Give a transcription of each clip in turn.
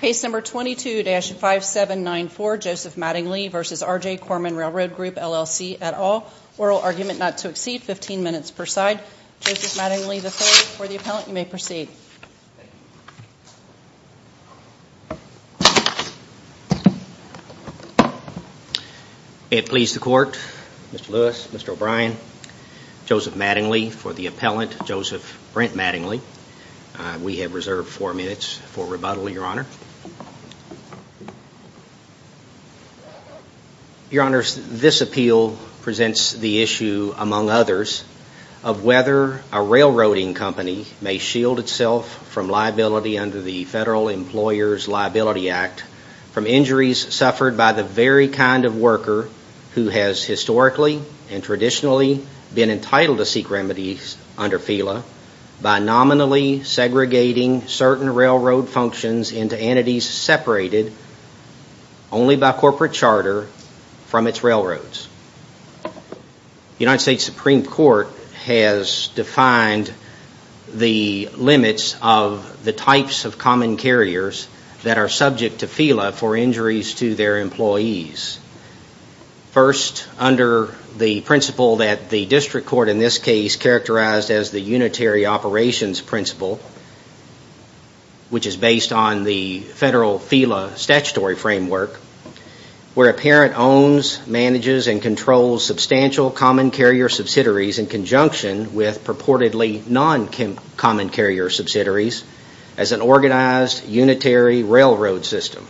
Case number 22-5794, Joseph Mattingly v. RJ Corman Railroad Group, LLC, et al. Oral argument not to exceed 15 minutes per side. Joseph Mattingly III for the appellant. You may proceed. It please the court, Mr. Lewis, Mr. O'Brien, Joseph Mattingly for the appellant, Joseph Brent Mattingly. We have reserved four minutes for rebuttal, Your Honor. Your Honors, this appeal presents the issue, among others, of whether a railroading company may shield itself from liability under the Federal Employers Liability Act from injuries suffered by the very kind of worker who has historically and traditionally been entitled to seek remedies under FELA by nominally segregating certain railroad functions into entities separated only by corporate charter from its railroads. The United States Supreme Court has defined the limits of the types of common carriers that are subject to FELA for injuries to their employees. First, under the principle that the district court in this case characterized as the Unitary Operations Principle, which is based on the Federal FELA statutory framework, where a parent owns, manages, and controls substantial common carrier subsidiaries in conjunction with purportedly non-common carrier subsidiaries as an organized unitary railroad system.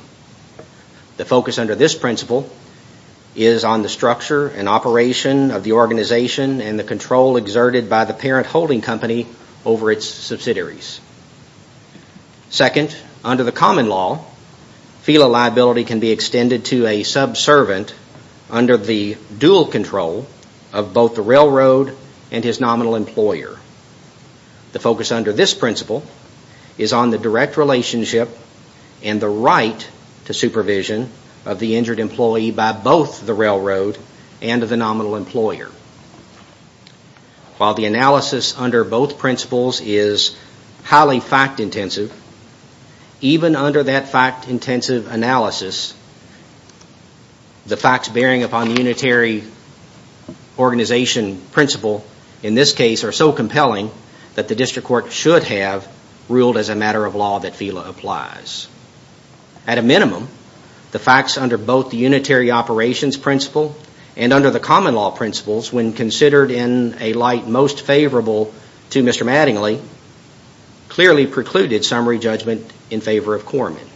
The focus under this principle is on the structure and operation of the organization and the control exerted by the parent holding company over its subsidiaries. Second, under the common law, FELA liability can be extended to a subservient under the dual control of both the railroad and his nominal employer. The focus under this principle is on the direct relationship and the right to supervision of the injured employee by both the railroad and the nominal employer. While the analysis under both principles is highly fact-intensive, even under that fact-intensive analysis, the facts bearing upon the Unitary Organization Principle in this case are so compelling that the district court should have ruled as a matter of law that FELA applies. At a minimum, the facts under both the Unitary Operations Principle and under the common law principles, when considered in a light most favorable to Mr. Mattingly, clearly precluded summary judgment in favor of Corman.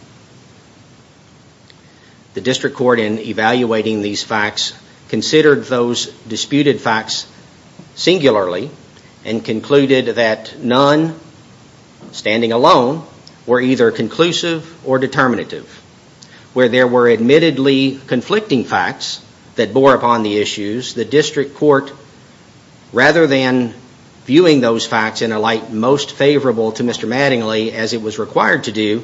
The district court, in evaluating these facts, considered those disputed facts singularly and concluded that none, standing alone, were either conclusive or determinative. Where there were admittedly conflicting facts that bore upon the issues, the district court, rather than viewing those facts in a light most favorable to Mr. Mattingly as it was required to do,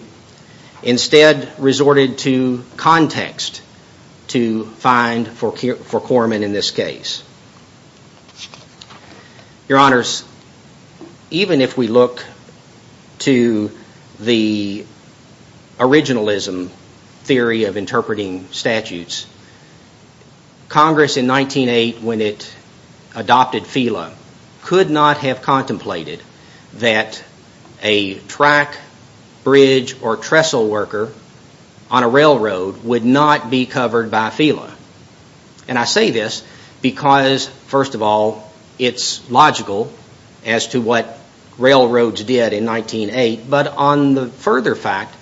instead resorted to context to find for Corman in this case. Your honors, even if we look to the originalism theory of interpreting statutes, Congress in 1908, when it adopted FELA, could not have contemplated that a track, bridge, or trestle worker on a railroad would not be covered by FELA. And I say this because, first of all, it's logical as to what railroads did in 1908, but on the further fact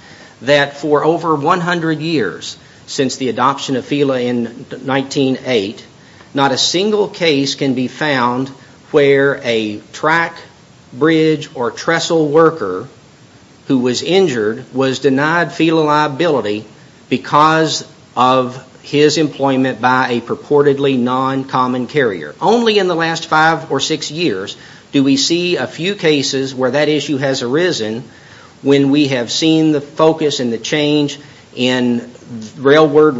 that for over 100 years since the adoption of FELA in 1908, not a single case can be found where a track, bridge, or trestle worker who was injured was denied FELA liability because of his employment by a purportedly non-common carrier. Only in the last five or six years do we see a few cases where that issue has arisen when we have seen the focus and the change in railroad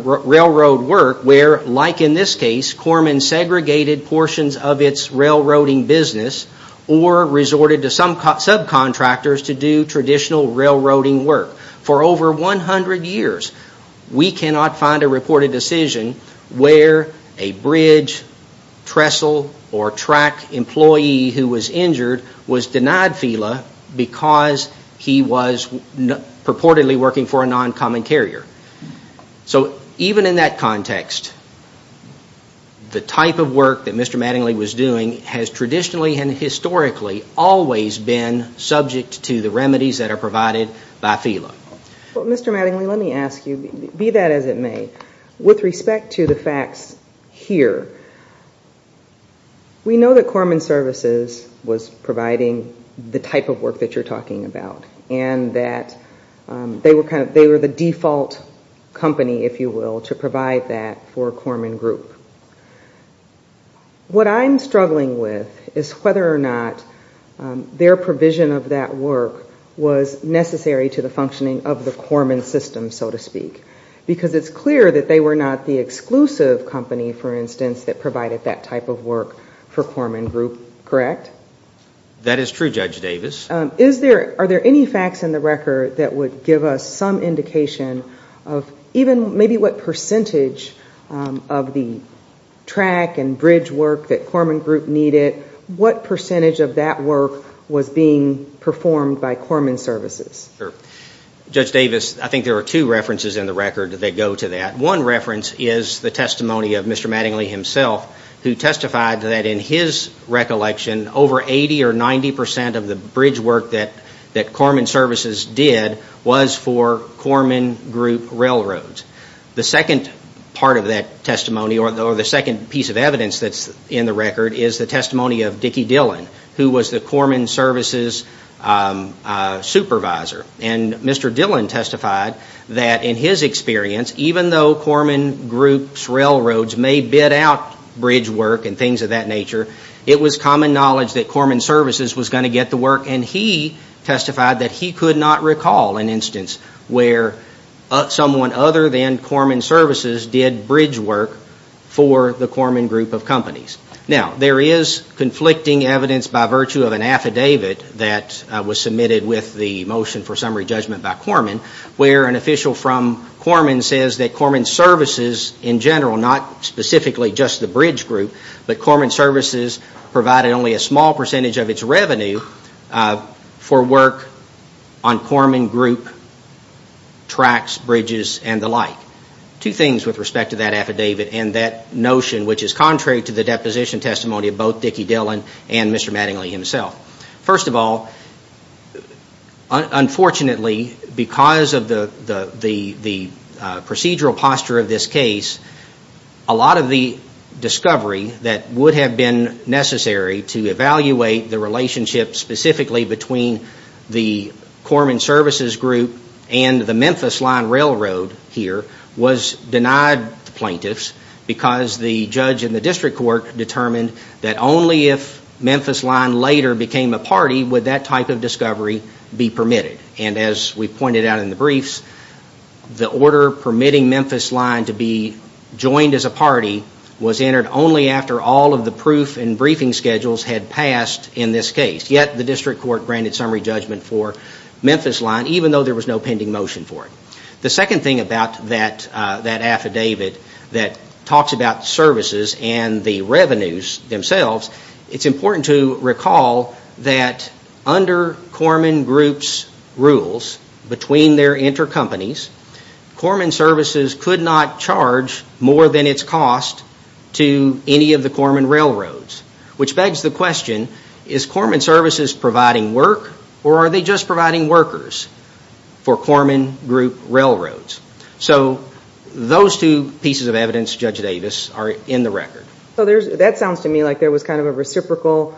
work where, like in this case, Corman segregated portions of its railroading business or resorted to some subcontractors to do traditional railroading work. For over 100 years we cannot find a reported decision where a bridge, trestle, or track employee who was injured was denied FELA because he was purportedly working for a non-common carrier. So, even in that context, the type of work that Mr. Mattingly was doing has traditionally and historically always been subject to the remedies that are provided by FELA. Well, Mr. Mattingly, let me ask you, be that as it may, with respect to the facts here, we know that Corman Services was providing the type of work that you're talking about and that they were the default company, if you will, to provide that for Corman Group. What I'm struggling with is whether or not their provision of that work was necessary to the functioning of the Corman system, so to speak, because it's clear that they were not the exclusive company, for instance, that provided that type of work for Corman Group, correct? That is true, Judge Davis. Are there any facts in the record that would give us some indication of even maybe what percentage of the track and bridge work that Corman Group needed? What percentage of that work was being performed by Corman Services? Judge Davis, I think there are two references in the record that go to that. One reference is the testimony of Mr. Mattingly himself who testified that in his recollection over eighty or ninety percent of the bridge work that Corman Services did was for Corman Group Railroads. The second part of that testimony or the second piece of evidence that's in the record is the testimony of Dickie Dillon who was the Corman Services supervisor. And Mr. Dillon testified that in his experience, even though Corman Group's Railroads may bid out bridge work and things of that nature, it was common knowledge that Corman Services was going to get the work and he testified that he could not recall an instance where someone other than Corman Services did bridge work for the Corman Group of companies. Now, there is conflicting evidence by virtue of an affidavit that was submitted with the motion for summary judgment by Corman where an official from Corman says that Corman Services in general, not specifically just the bridge group, but Corman Services provided only a small percentage of its revenue for work on Corman Group tracks, bridges, and the like. Two things with respect to that affidavit and that notion which is contrary to the deposition testimony of both Dickie Dillon and Mr. Mattingly himself. First of all, unfortunately because of the procedural posture of this case, a lot of the discovery that would have been necessary to evaluate the relationship specifically between the Corman Services group and the Memphis Line Railroad here was denied to plaintiffs because the judge in the district court determined that only if Memphis Line later became a party would that type of discovery be permitted. And as we pointed out in the briefs, the order permitting Memphis Line to be joined as a party was entered only after all of the proof and briefing schedules had passed in this case. Yet the district court granted summary judgment for Memphis Line even though there was no pending motion for it. The second thing about that affidavit that talks about services and the revenues themselves, it's important to recall that under Corman Group's rules between their intercompanies, Corman Services could not charge more than its cost to any of the Corman Railroads, which begs the question, is Corman Services providing work or are they just providing workers for Corman Group Railroads? So those two pieces of evidence, Judge Davis, are in the record. So that sounds to me like there was kind of a reciprocal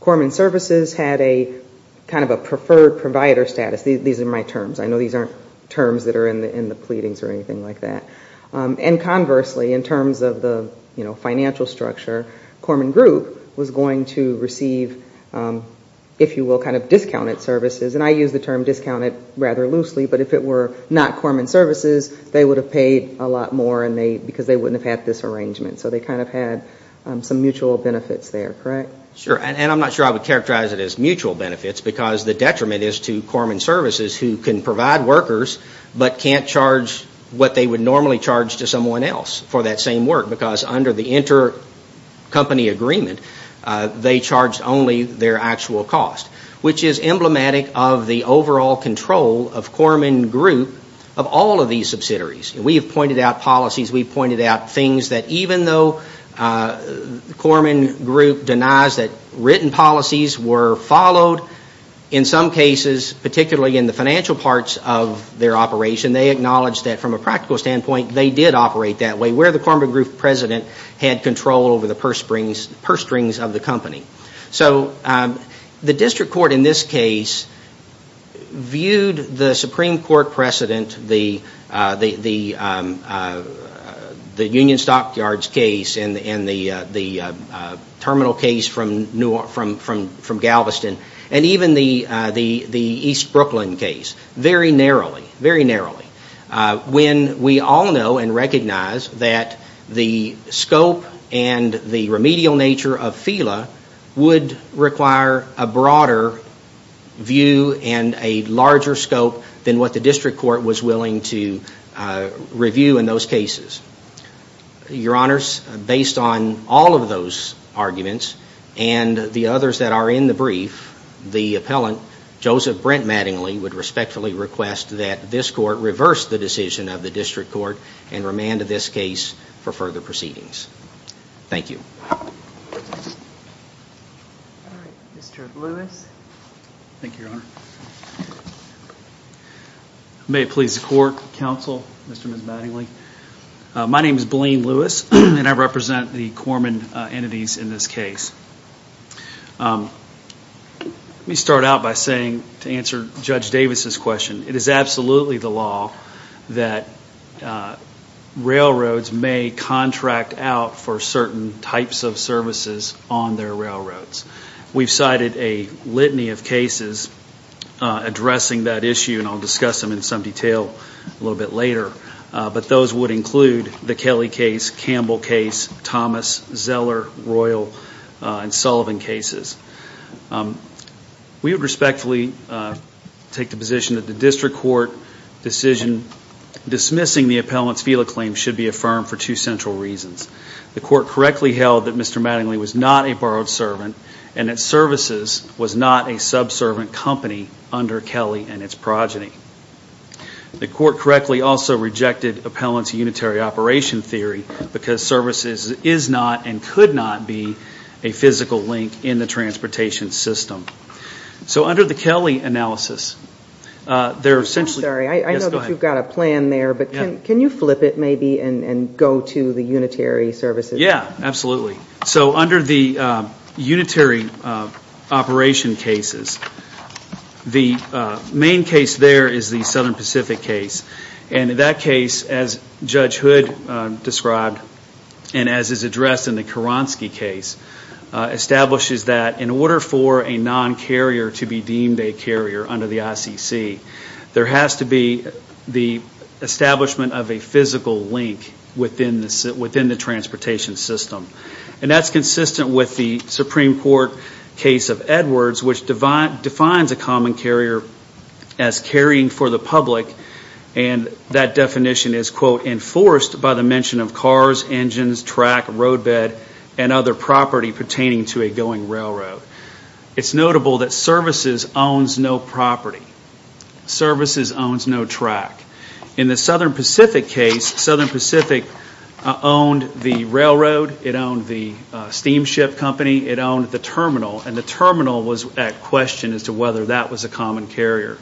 Corman Services had a kind of a preferred provider status. These are my terms. I know these aren't terms that are in the pleadings or anything like that. And conversely, in terms of the financial structure, Corman Group was going to receive if you will, kind of discounted services. And I use the term discounted rather loosely, but if it were not Corman Services, they would have paid a lot more because they wouldn't have had this arrangement. So they kind of had some mutual benefits there, correct? Sure, and I'm not sure I would characterize it as mutual benefits because the detriment is to Corman Services who can provide workers but can't charge what they would normally charge to someone else for that same work because under the inter company agreement, they charge only their actual cost, which is emblematic of the overall control of Corman Group of all of these subsidiaries. We have pointed out policies, we've pointed out things that even though Corman Group denies that written policies were followed, in some cases, particularly in the financial parts of their operation, they acknowledge that from a practical standpoint, they did operate that way. Where the Corman Group president had control over the purse springs of the company. So the district court in this case viewed the Supreme Court precedent, the Union Stockyards case and the terminal case from Galveston, and even the East Brooklyn case very narrowly, very narrowly. When we all know and recognize that the scope and the remedial nature of FILA would require a broader view and a larger scope than what the district court was willing to review in those cases. Your honors, based on all of those arguments and the others that are in the brief, the appellant, Joseph Brent Mattingly, would respectfully request that this court reverse the decision of the district court and remand this case for further proceedings. Thank you. May it please the court, counsel, Mr. and Ms. Mattingly. My name is Blaine Lewis and I represent the Corman entities in this case. Let me start out by saying, to answer Judge Davis's question, it is absolutely the law that railroads may contract out for certain types of services on their railroads. We've cited a litany of cases addressing that issue, and I'll discuss them in some detail a little bit later, but those would include the Kelly case, Campbell case, Thomas, Zeller, Royal and Sullivan cases. We would respectfully take the position that the district court decision dismissing the appellant's FELA claim should be affirmed for two central reasons. The court correctly held that Mr. Mattingly was not a borrowed servant and that services was not a subservient company under Kelly and its progeny. The court correctly also rejected appellant's unitary operation theory because services is not and could not be a physical link in the transportation system. So under the Kelly analysis, I'm sorry, I know that you've got a plan there, but can you flip it maybe and go to the unitary services? Yeah, absolutely. So under the unitary operation cases, the main case there is the Southern Pacific case, and in that case, as Judge Hood described and as is addressed in the Kuronsky case, establishes that in order for a non-carrier to be deemed a carrier under the ICC, there has to be the establishment of a physical link within the transportation system. And that's consistent with the Supreme Court case of Edwards, which defines a common carrier as carrying for the public and that definition is, quote, enforced by the mention of cars, engines, track, roadbed and other property pertaining to a going railroad. It's notable that services owns no property. Services owns no track. In the Southern Pacific case, Southern Pacific owned the railroad, it owned the steamship company, it owned the terminal, and the terminal was at question as to whether that was a common carrier.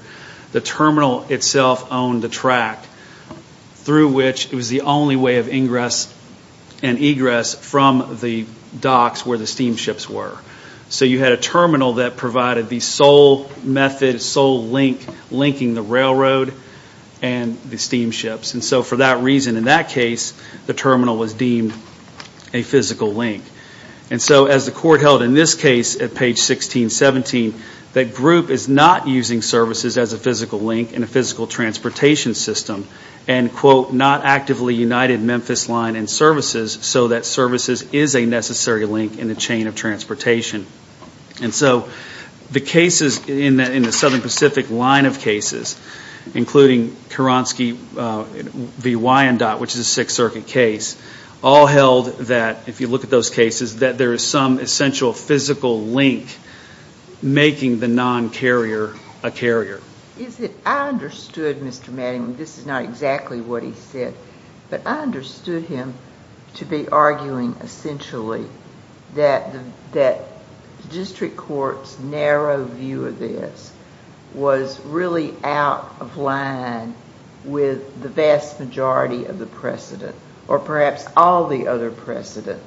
The terminal itself owned the track through which it was the only way of ingress and egress from the docks where the steamships were. So you had a terminal that provided the sole method, sole link, linking the railroad and the steamships. And so for that reason, in that case, the terminal was deemed a physical link. And so as the court held in this case at page 1617, that group is not using services as a physical link in a physical transportation system and, quote, not actively united Memphis line and services so that services is a necessary link in the chain of transportation. And so the cases in the Southern Pacific line of cases, including Keransky v. Wyandotte, which is a Sixth Circuit case, all held that, if you look at those cases, that there is some essential physical link making the non-carrier a carrier. I understood Mr. Mattingly, this is not exactly what he said, but I understood him to be arguing essentially that the district court's narrow view of this was really out of line with the vast majority of the precedent, or perhaps all the other precedent,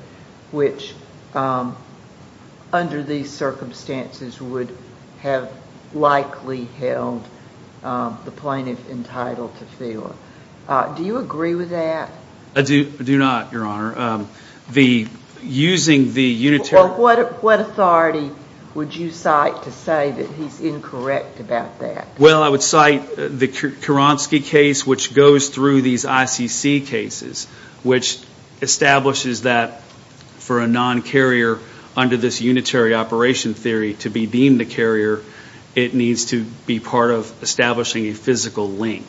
which under these circumstances would have likely held the plaintiff entitled to feel. Do you agree with that? I do not, Your Honor. Using the unitary... What authority would you cite to say that he's incorrect about that? Well, I would cite the Keransky case, which goes through these ICC cases, which establishes that under this unitary operation theory to be deemed a carrier, it needs to be part of establishing a physical link.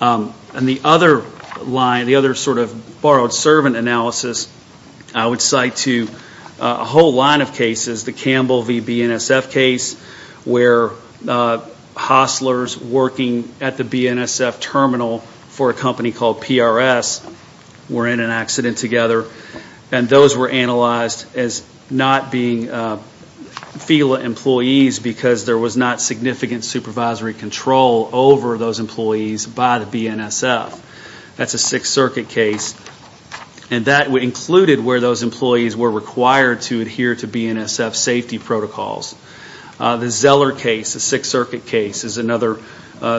And the other line, the other sort of borrowed servant analysis, I would cite to a whole line of cases, the Campbell v. BNSF case, where hostlers working at the BNSF terminal for a company called PRS were in an accident together, and those were analyzed as not being regular employees because there was not significant supervisory control over those employees by the BNSF. That's a Sixth Circuit case, and that included where those employees were required to adhere to BNSF safety protocols. The Zeller case, the Sixth Circuit case, is another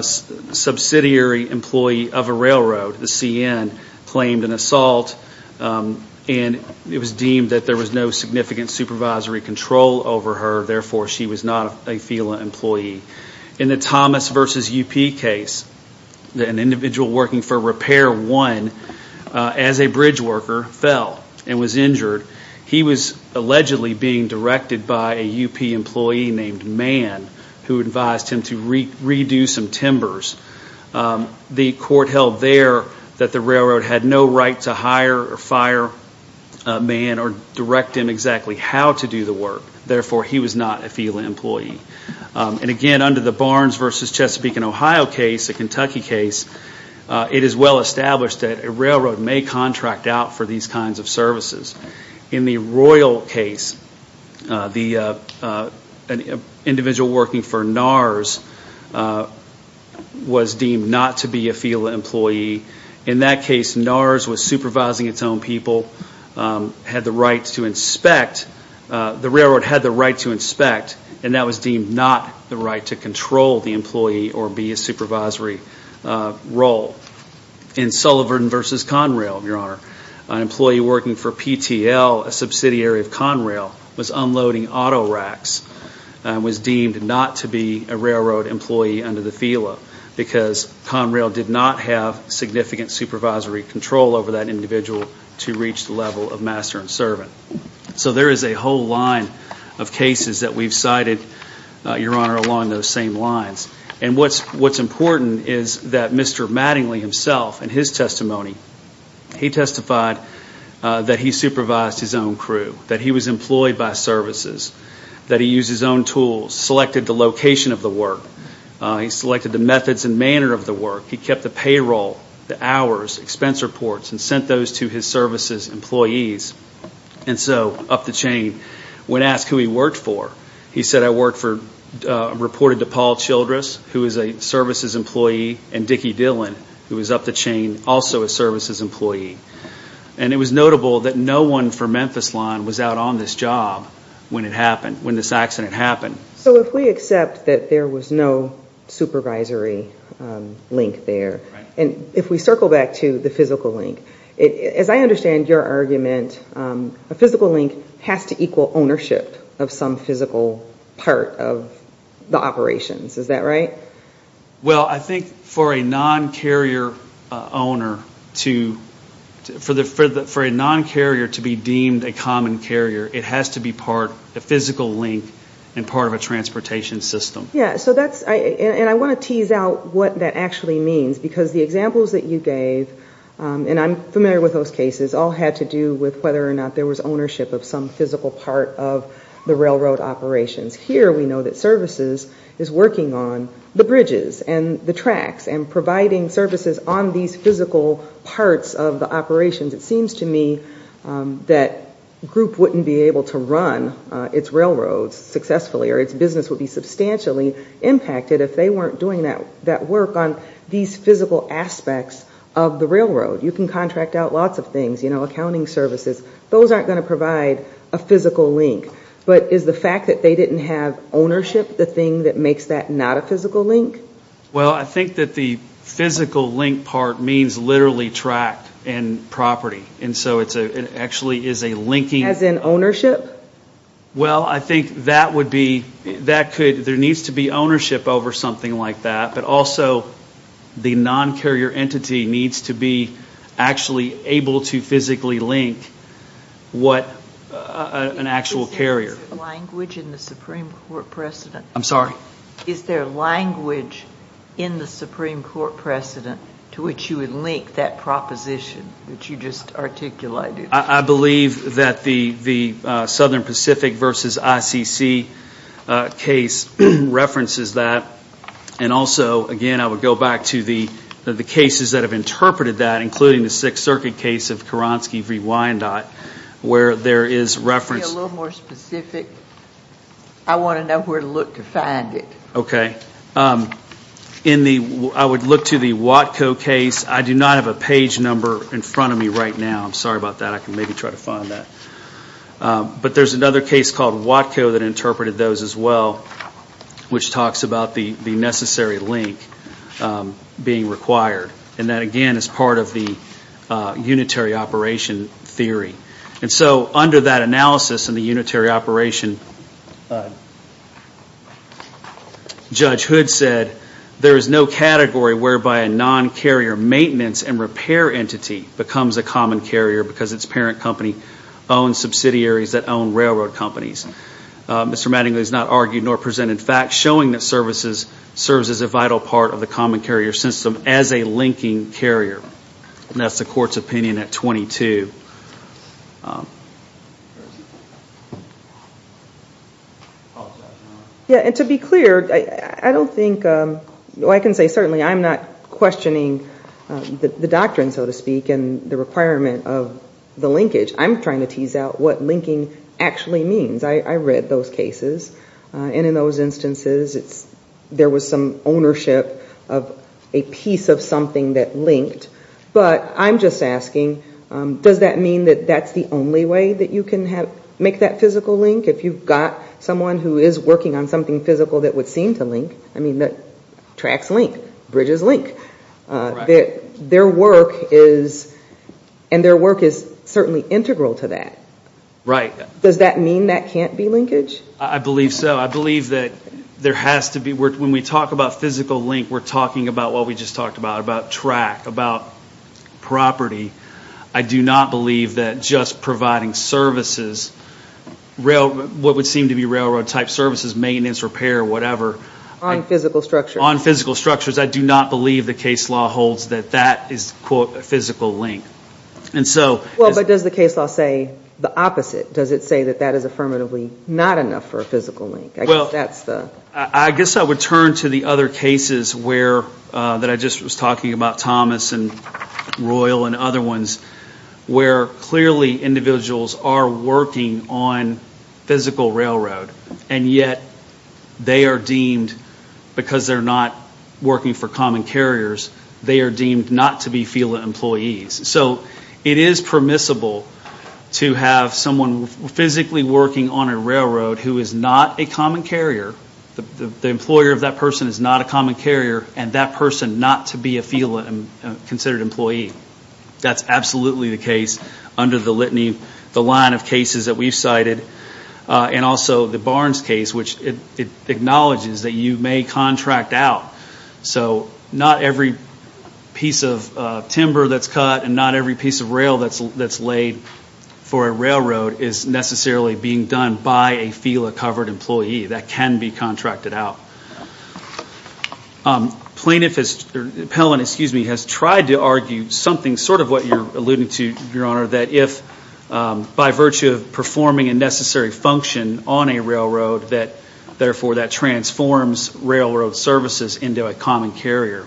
subsidiary employee of a railroad, the CN, claimed an assault, and it was deemed that there was no significant supervisory control over her, therefore she was not a FELA employee. In the Thomas v. UP case, an individual working for Repair One, as a bridge worker, fell and was injured. He was allegedly being directed by a UP employee named Mann, who advised him to redo some timbers. The court held there that the railroad had no right to hire or fire Mann or direct him exactly how to do the work, therefore he was not a FELA employee. And again, under the Barnes v. Chesapeake and Ohio case, the Kentucky case, it is well established that a railroad may contract out for these kinds of services. In the Royal case, an individual working for NARS was deemed not to be a FELA employee. In that case, NARS was supervising its own people, had the right to inspect, the railroad had the right to inspect, and that was deemed not the right to control the employee or be a supervisory role. In Sullivan v. Conrail, Your Honor, an employee working for PTL, a subsidiary of Conrail, was unloading auto racks, was deemed not to be a railroad employee under the FELA because Conrail did not have significant supervisory control over that individual to reach the level of master and servant. So there is a whole line of cases that we've cited, Your Honor, along those same lines. And what's important is that Mr. Mattingly himself, in his testimony, he testified that he supervised his own crew, that he was employed by services, that he used his own tools, selected the location of the work, he selected the methods and manner of the work, he kept the payroll, the hours, expense reports, and sent those to his services employees. And so, up the chain, when asked who he worked for, he said, I worked for, reported to Paul Childress, who was a services employee, and Dickie Dillon, who was up the chain, also a services employee. And it was notable that no one from Memphis Line was out on this job when it happened, when this accident happened. So if we accept that there was no supervisory link there, and if we circle back to the physical link, as I understand your argument, a physical link has to equal ownership of some physical part of the operations. Is that right? Well, I think for a non-carrier owner to, for a non-carrier to be deemed a common carrier, it has to be part, a physical link, and part of a transportation system. Yeah, so that's, and I want to tease out what that actually means, because the examples that you gave, and I'm familiar with those cases, all had to do with whether or not there was ownership of some physical part of the railroad operations. Here, we know that services is working on the bridges and the tracks, and providing services on these physical parts of the operations. It seems to me that Group wouldn't be able to run its railroads successfully, or its business would be substantially impacted if they weren't doing that work on these physical aspects of the railroad. You can contract out lots of things, you know, accounting services. Those aren't going to provide a physical link. But is the fact that they didn't have ownership the thing that makes that not a physical link? Well, I think that the physical link part means literally track and property, and so it actually is a linking. As in ownership? Well, I think that would be, that could, there needs to be ownership over something like that, but also the non-carrier entity needs to be actually able to physically link what an actual carrier. Is there language in the Supreme Court precedent? I'm sorry? Is there language in the Supreme Court precedent to which you would link that proposition that you just articulated? I believe that the Southern Pacific versus ICC case references that, and also, again, I would go back to the cases that have interpreted that, including the Sixth Circuit case of Keransky v. Wyandotte, where there is reference... Can you be a little more specific? I want to know where to look to find it. Okay. In the, I would look to the Watco case. I do not have a page number in front of me right now. I'm sorry about that. I can maybe try to find that. But there's another case called Watco that interpreted those as well, which talks about the necessary link being required. And that, again, is part of the unitary operation theory. And so under that analysis in the unitary operation, Judge Hood said, there is no category whereby a non-carrier maintenance and repair entity becomes a common carrier because its parent company owns subsidiaries that own railroad companies. Mr. Mattingly has not argued nor presented facts showing that services serves as a vital part of the common carrier system as a linking carrier. And that's the court's opinion at 22. Yeah, and to be clear, I don't think... Well, I can say certainly I'm not questioning the doctrine, so to speak, and the requirement of the linkage. I'm trying to tease out what linking actually means. I read those cases. And in those instances, there was some ownership of a piece of something that linked. But I'm just asking, does that mean that that's the only way that you can make that physical link? If you've got someone who is working on something physical that would seem to link, I mean, that tracks link, bridges link. Their work is... And their work is certainly integral to that. Right. Does that mean that can't be linkage? I believe so. I believe that there has to be... When we talk about physical link, we're talking about what we just talked about, about track, about property. I do not believe that just providing services, what would seem to be railroad-type services, maintenance, repair, whatever... On physical structures. On physical structures. I do not believe the case law holds that that is, quote, a physical link. And so... Well, but does the case law say the opposite? Does it say that that is affirmatively not enough for a physical link? I guess that's the... I guess I would turn to the other cases where... That I just was talking about, Thomas and Royal and other ones, where clearly individuals are working on physical railroad, and yet they are deemed, because they're not working for common carriers, they are deemed not to be FELA employees. So, it is permissible to have someone physically working on a railroad who is not a common carrier, the employer of that person is not a common carrier, and that person not to be a FELA-considered employee. That's absolutely the case under the litany, the line of cases that we've cited, and also the Barnes case, which it acknowledges that you may contract out. So, not every piece of timber that's cut and not every piece of rail that's laid for a railroad is necessarily being done by a FELA-covered employee that can be contracted out. Plaintiff has... Appellant, excuse me, has tried to argue something, sort of what you're alluding to, Your Honor, that if, by virtue of performing a necessary function on a railroad, that, therefore, that transforms railroad services into a common carrier.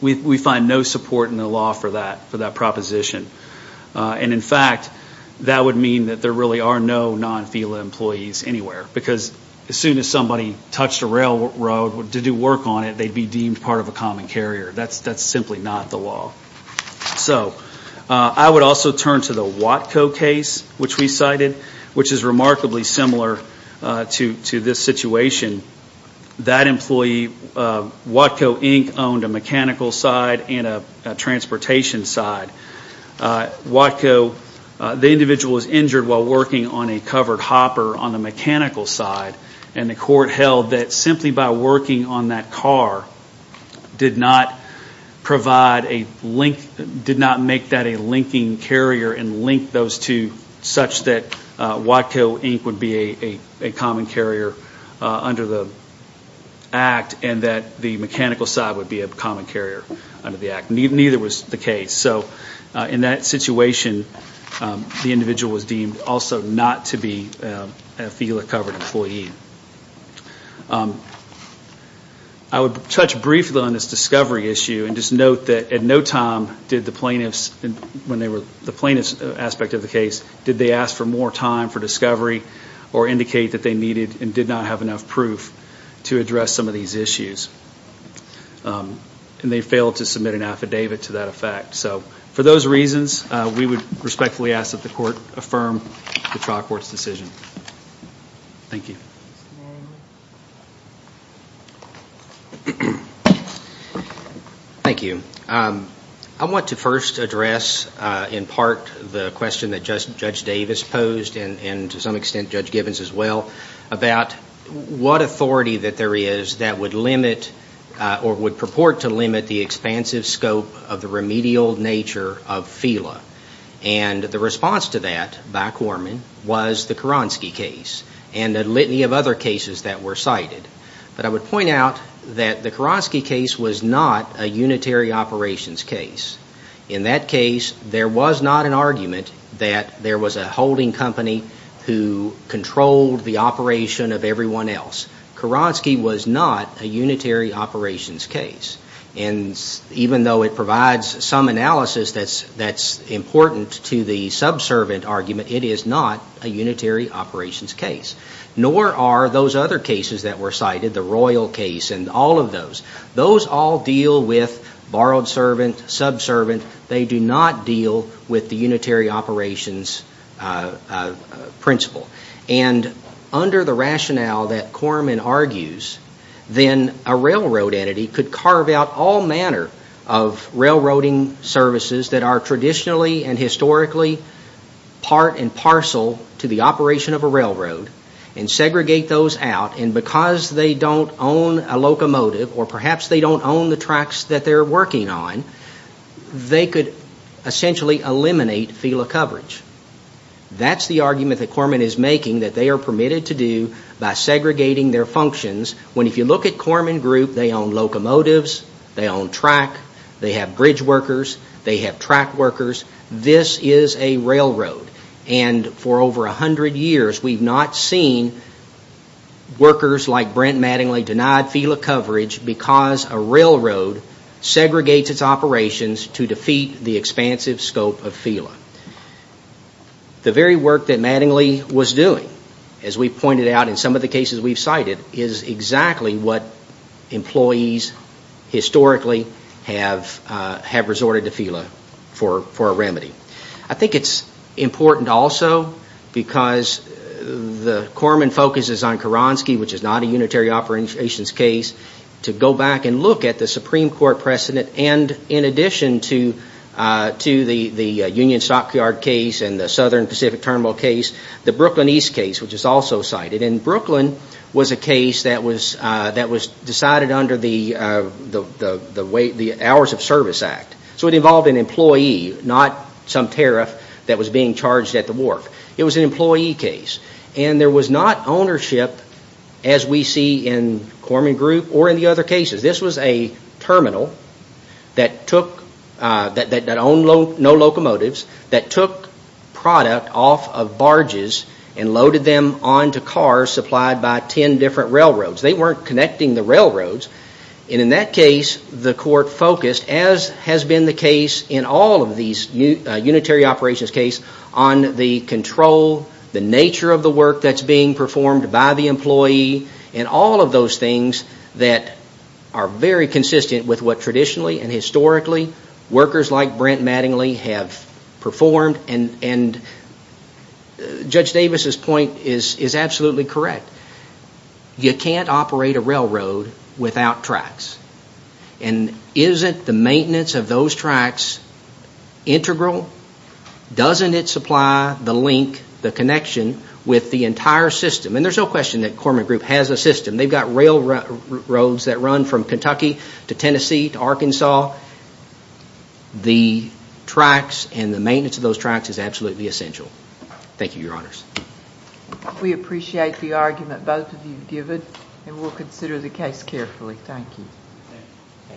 We find no support in the law for that, for that proposition. And, in fact, that would mean that there really are no non-FELA employees anywhere, because as soon as somebody touched a railroad to do work on it, they'd be deemed part of a common carrier. That's simply not the law. So, I would also turn to the Watco case, which we cited, which is remarkably similar to this situation. That employee, Watco, Inc., owned a mechanical side and a transportation side. Watco, the individual was injured while working on a covered hopper on the mechanical side, and the court held that simply by working on that car did not provide a link, did not make that a linking carrier and link those two such that Watco, Inc., would be a common carrier under the act and that the mechanical side would be a common carrier under the act. Neither was the case. So, in that situation, the individual was deemed also not to be a FELA-covered employee. I would touch briefly on this discovery issue and just note that at no time did the plaintiffs, when they were, the plaintiffs' aspect of the case, did they ask for more time for discovery or indicate that they needed and did not have enough proof to address some of these issues. And they failed to submit an affidavit to that effect. So, for those reasons, we would respectfully ask that the court affirm the trial court's decision. Thank you. Thank you. I want to first address, in part, the question that Judge Davis posed and, to some extent, Judge Gibbons as well, about what authority that there is that would limit or would purport to limit the expansive scope of the remedial nature of FELA. And the response to that by Corman was the Kuronsky case and a litany of other cases that were cited. But I would point out that the Kuronsky case was not a unitary operations case. In that case, there was not an argument that there was a holding company who controlled the operation of everyone else. Kuronsky was not a unitary operations case. And even though it provides some analysis that's important to the subservient argument, it is not a unitary operations case. Nor are those other cases that were cited, the Royal case and all of those. Those all deal with borrowed servant, subservient. They do not deal with the unitary operations principle. And under the rationale that Corman argues, then a railroad entity could carve out all manner of railroading services that are traditionally and historically part and parcel to the operation of a railroad and segregate those out. And because they don't own a locomotive or perhaps they don't own the tracks that they're working on, they could essentially eliminate FELA coverage. That's the argument that Corman is making that they are permitted to do by segregating their functions. When if you look at Corman Group, they own locomotives, they own track, they have bridge workers, they have track workers. This is a railroad. And for over a hundred years, we've not seen workers like Brent Mattingly denied FELA coverage because a railroad segregates its operations to defeat the expansive scope of FELA. The very work that Mattingly was doing, as we pointed out in some of the cases we've cited, is exactly what employees historically have resorted to FELA for a remedy. I think it's important also because the Corman focuses on Karonsky, which is not a unitary operations case, to go back and look at the Supreme Court precedent and in addition to the Union Stockyard case and the Southern Pacific Terminal case, the Brooklyn East case, which is also cited. And Brooklyn was a case that was decided under the Hours of Service Act. So it involved an employee, not some tariff that was being charged at the work. It was an employee case. And there was not ownership as we see in Corman Group or in the other cases. This was a terminal that owned no locomotives, that took product off of barges and loaded them onto cars supplied by 10 different railroads. They weren't connecting the railroads. And in that case, the court focused, as has been the case in all of these unitary operations cases, on the control, the nature of the work that's being performed by the employee and all of those things that are very consistent with what traditionally and historically workers like Brent Mattingly have performed. And Judge Davis's point is absolutely correct. You can't operate a railroad without tracks. And isn't the maintenance of those tracks integral? Doesn't it supply the link, the connection, with the entire system? And there's no question that Corman Group has a system. They've got railroads that run from Kentucky to Tennessee to Arkansas. The tracks and the maintenance of those tracks is absolutely essential. Thank you, Your Honors. We appreciate the argument both of you have given, and we'll consider the case carefully. Thank you.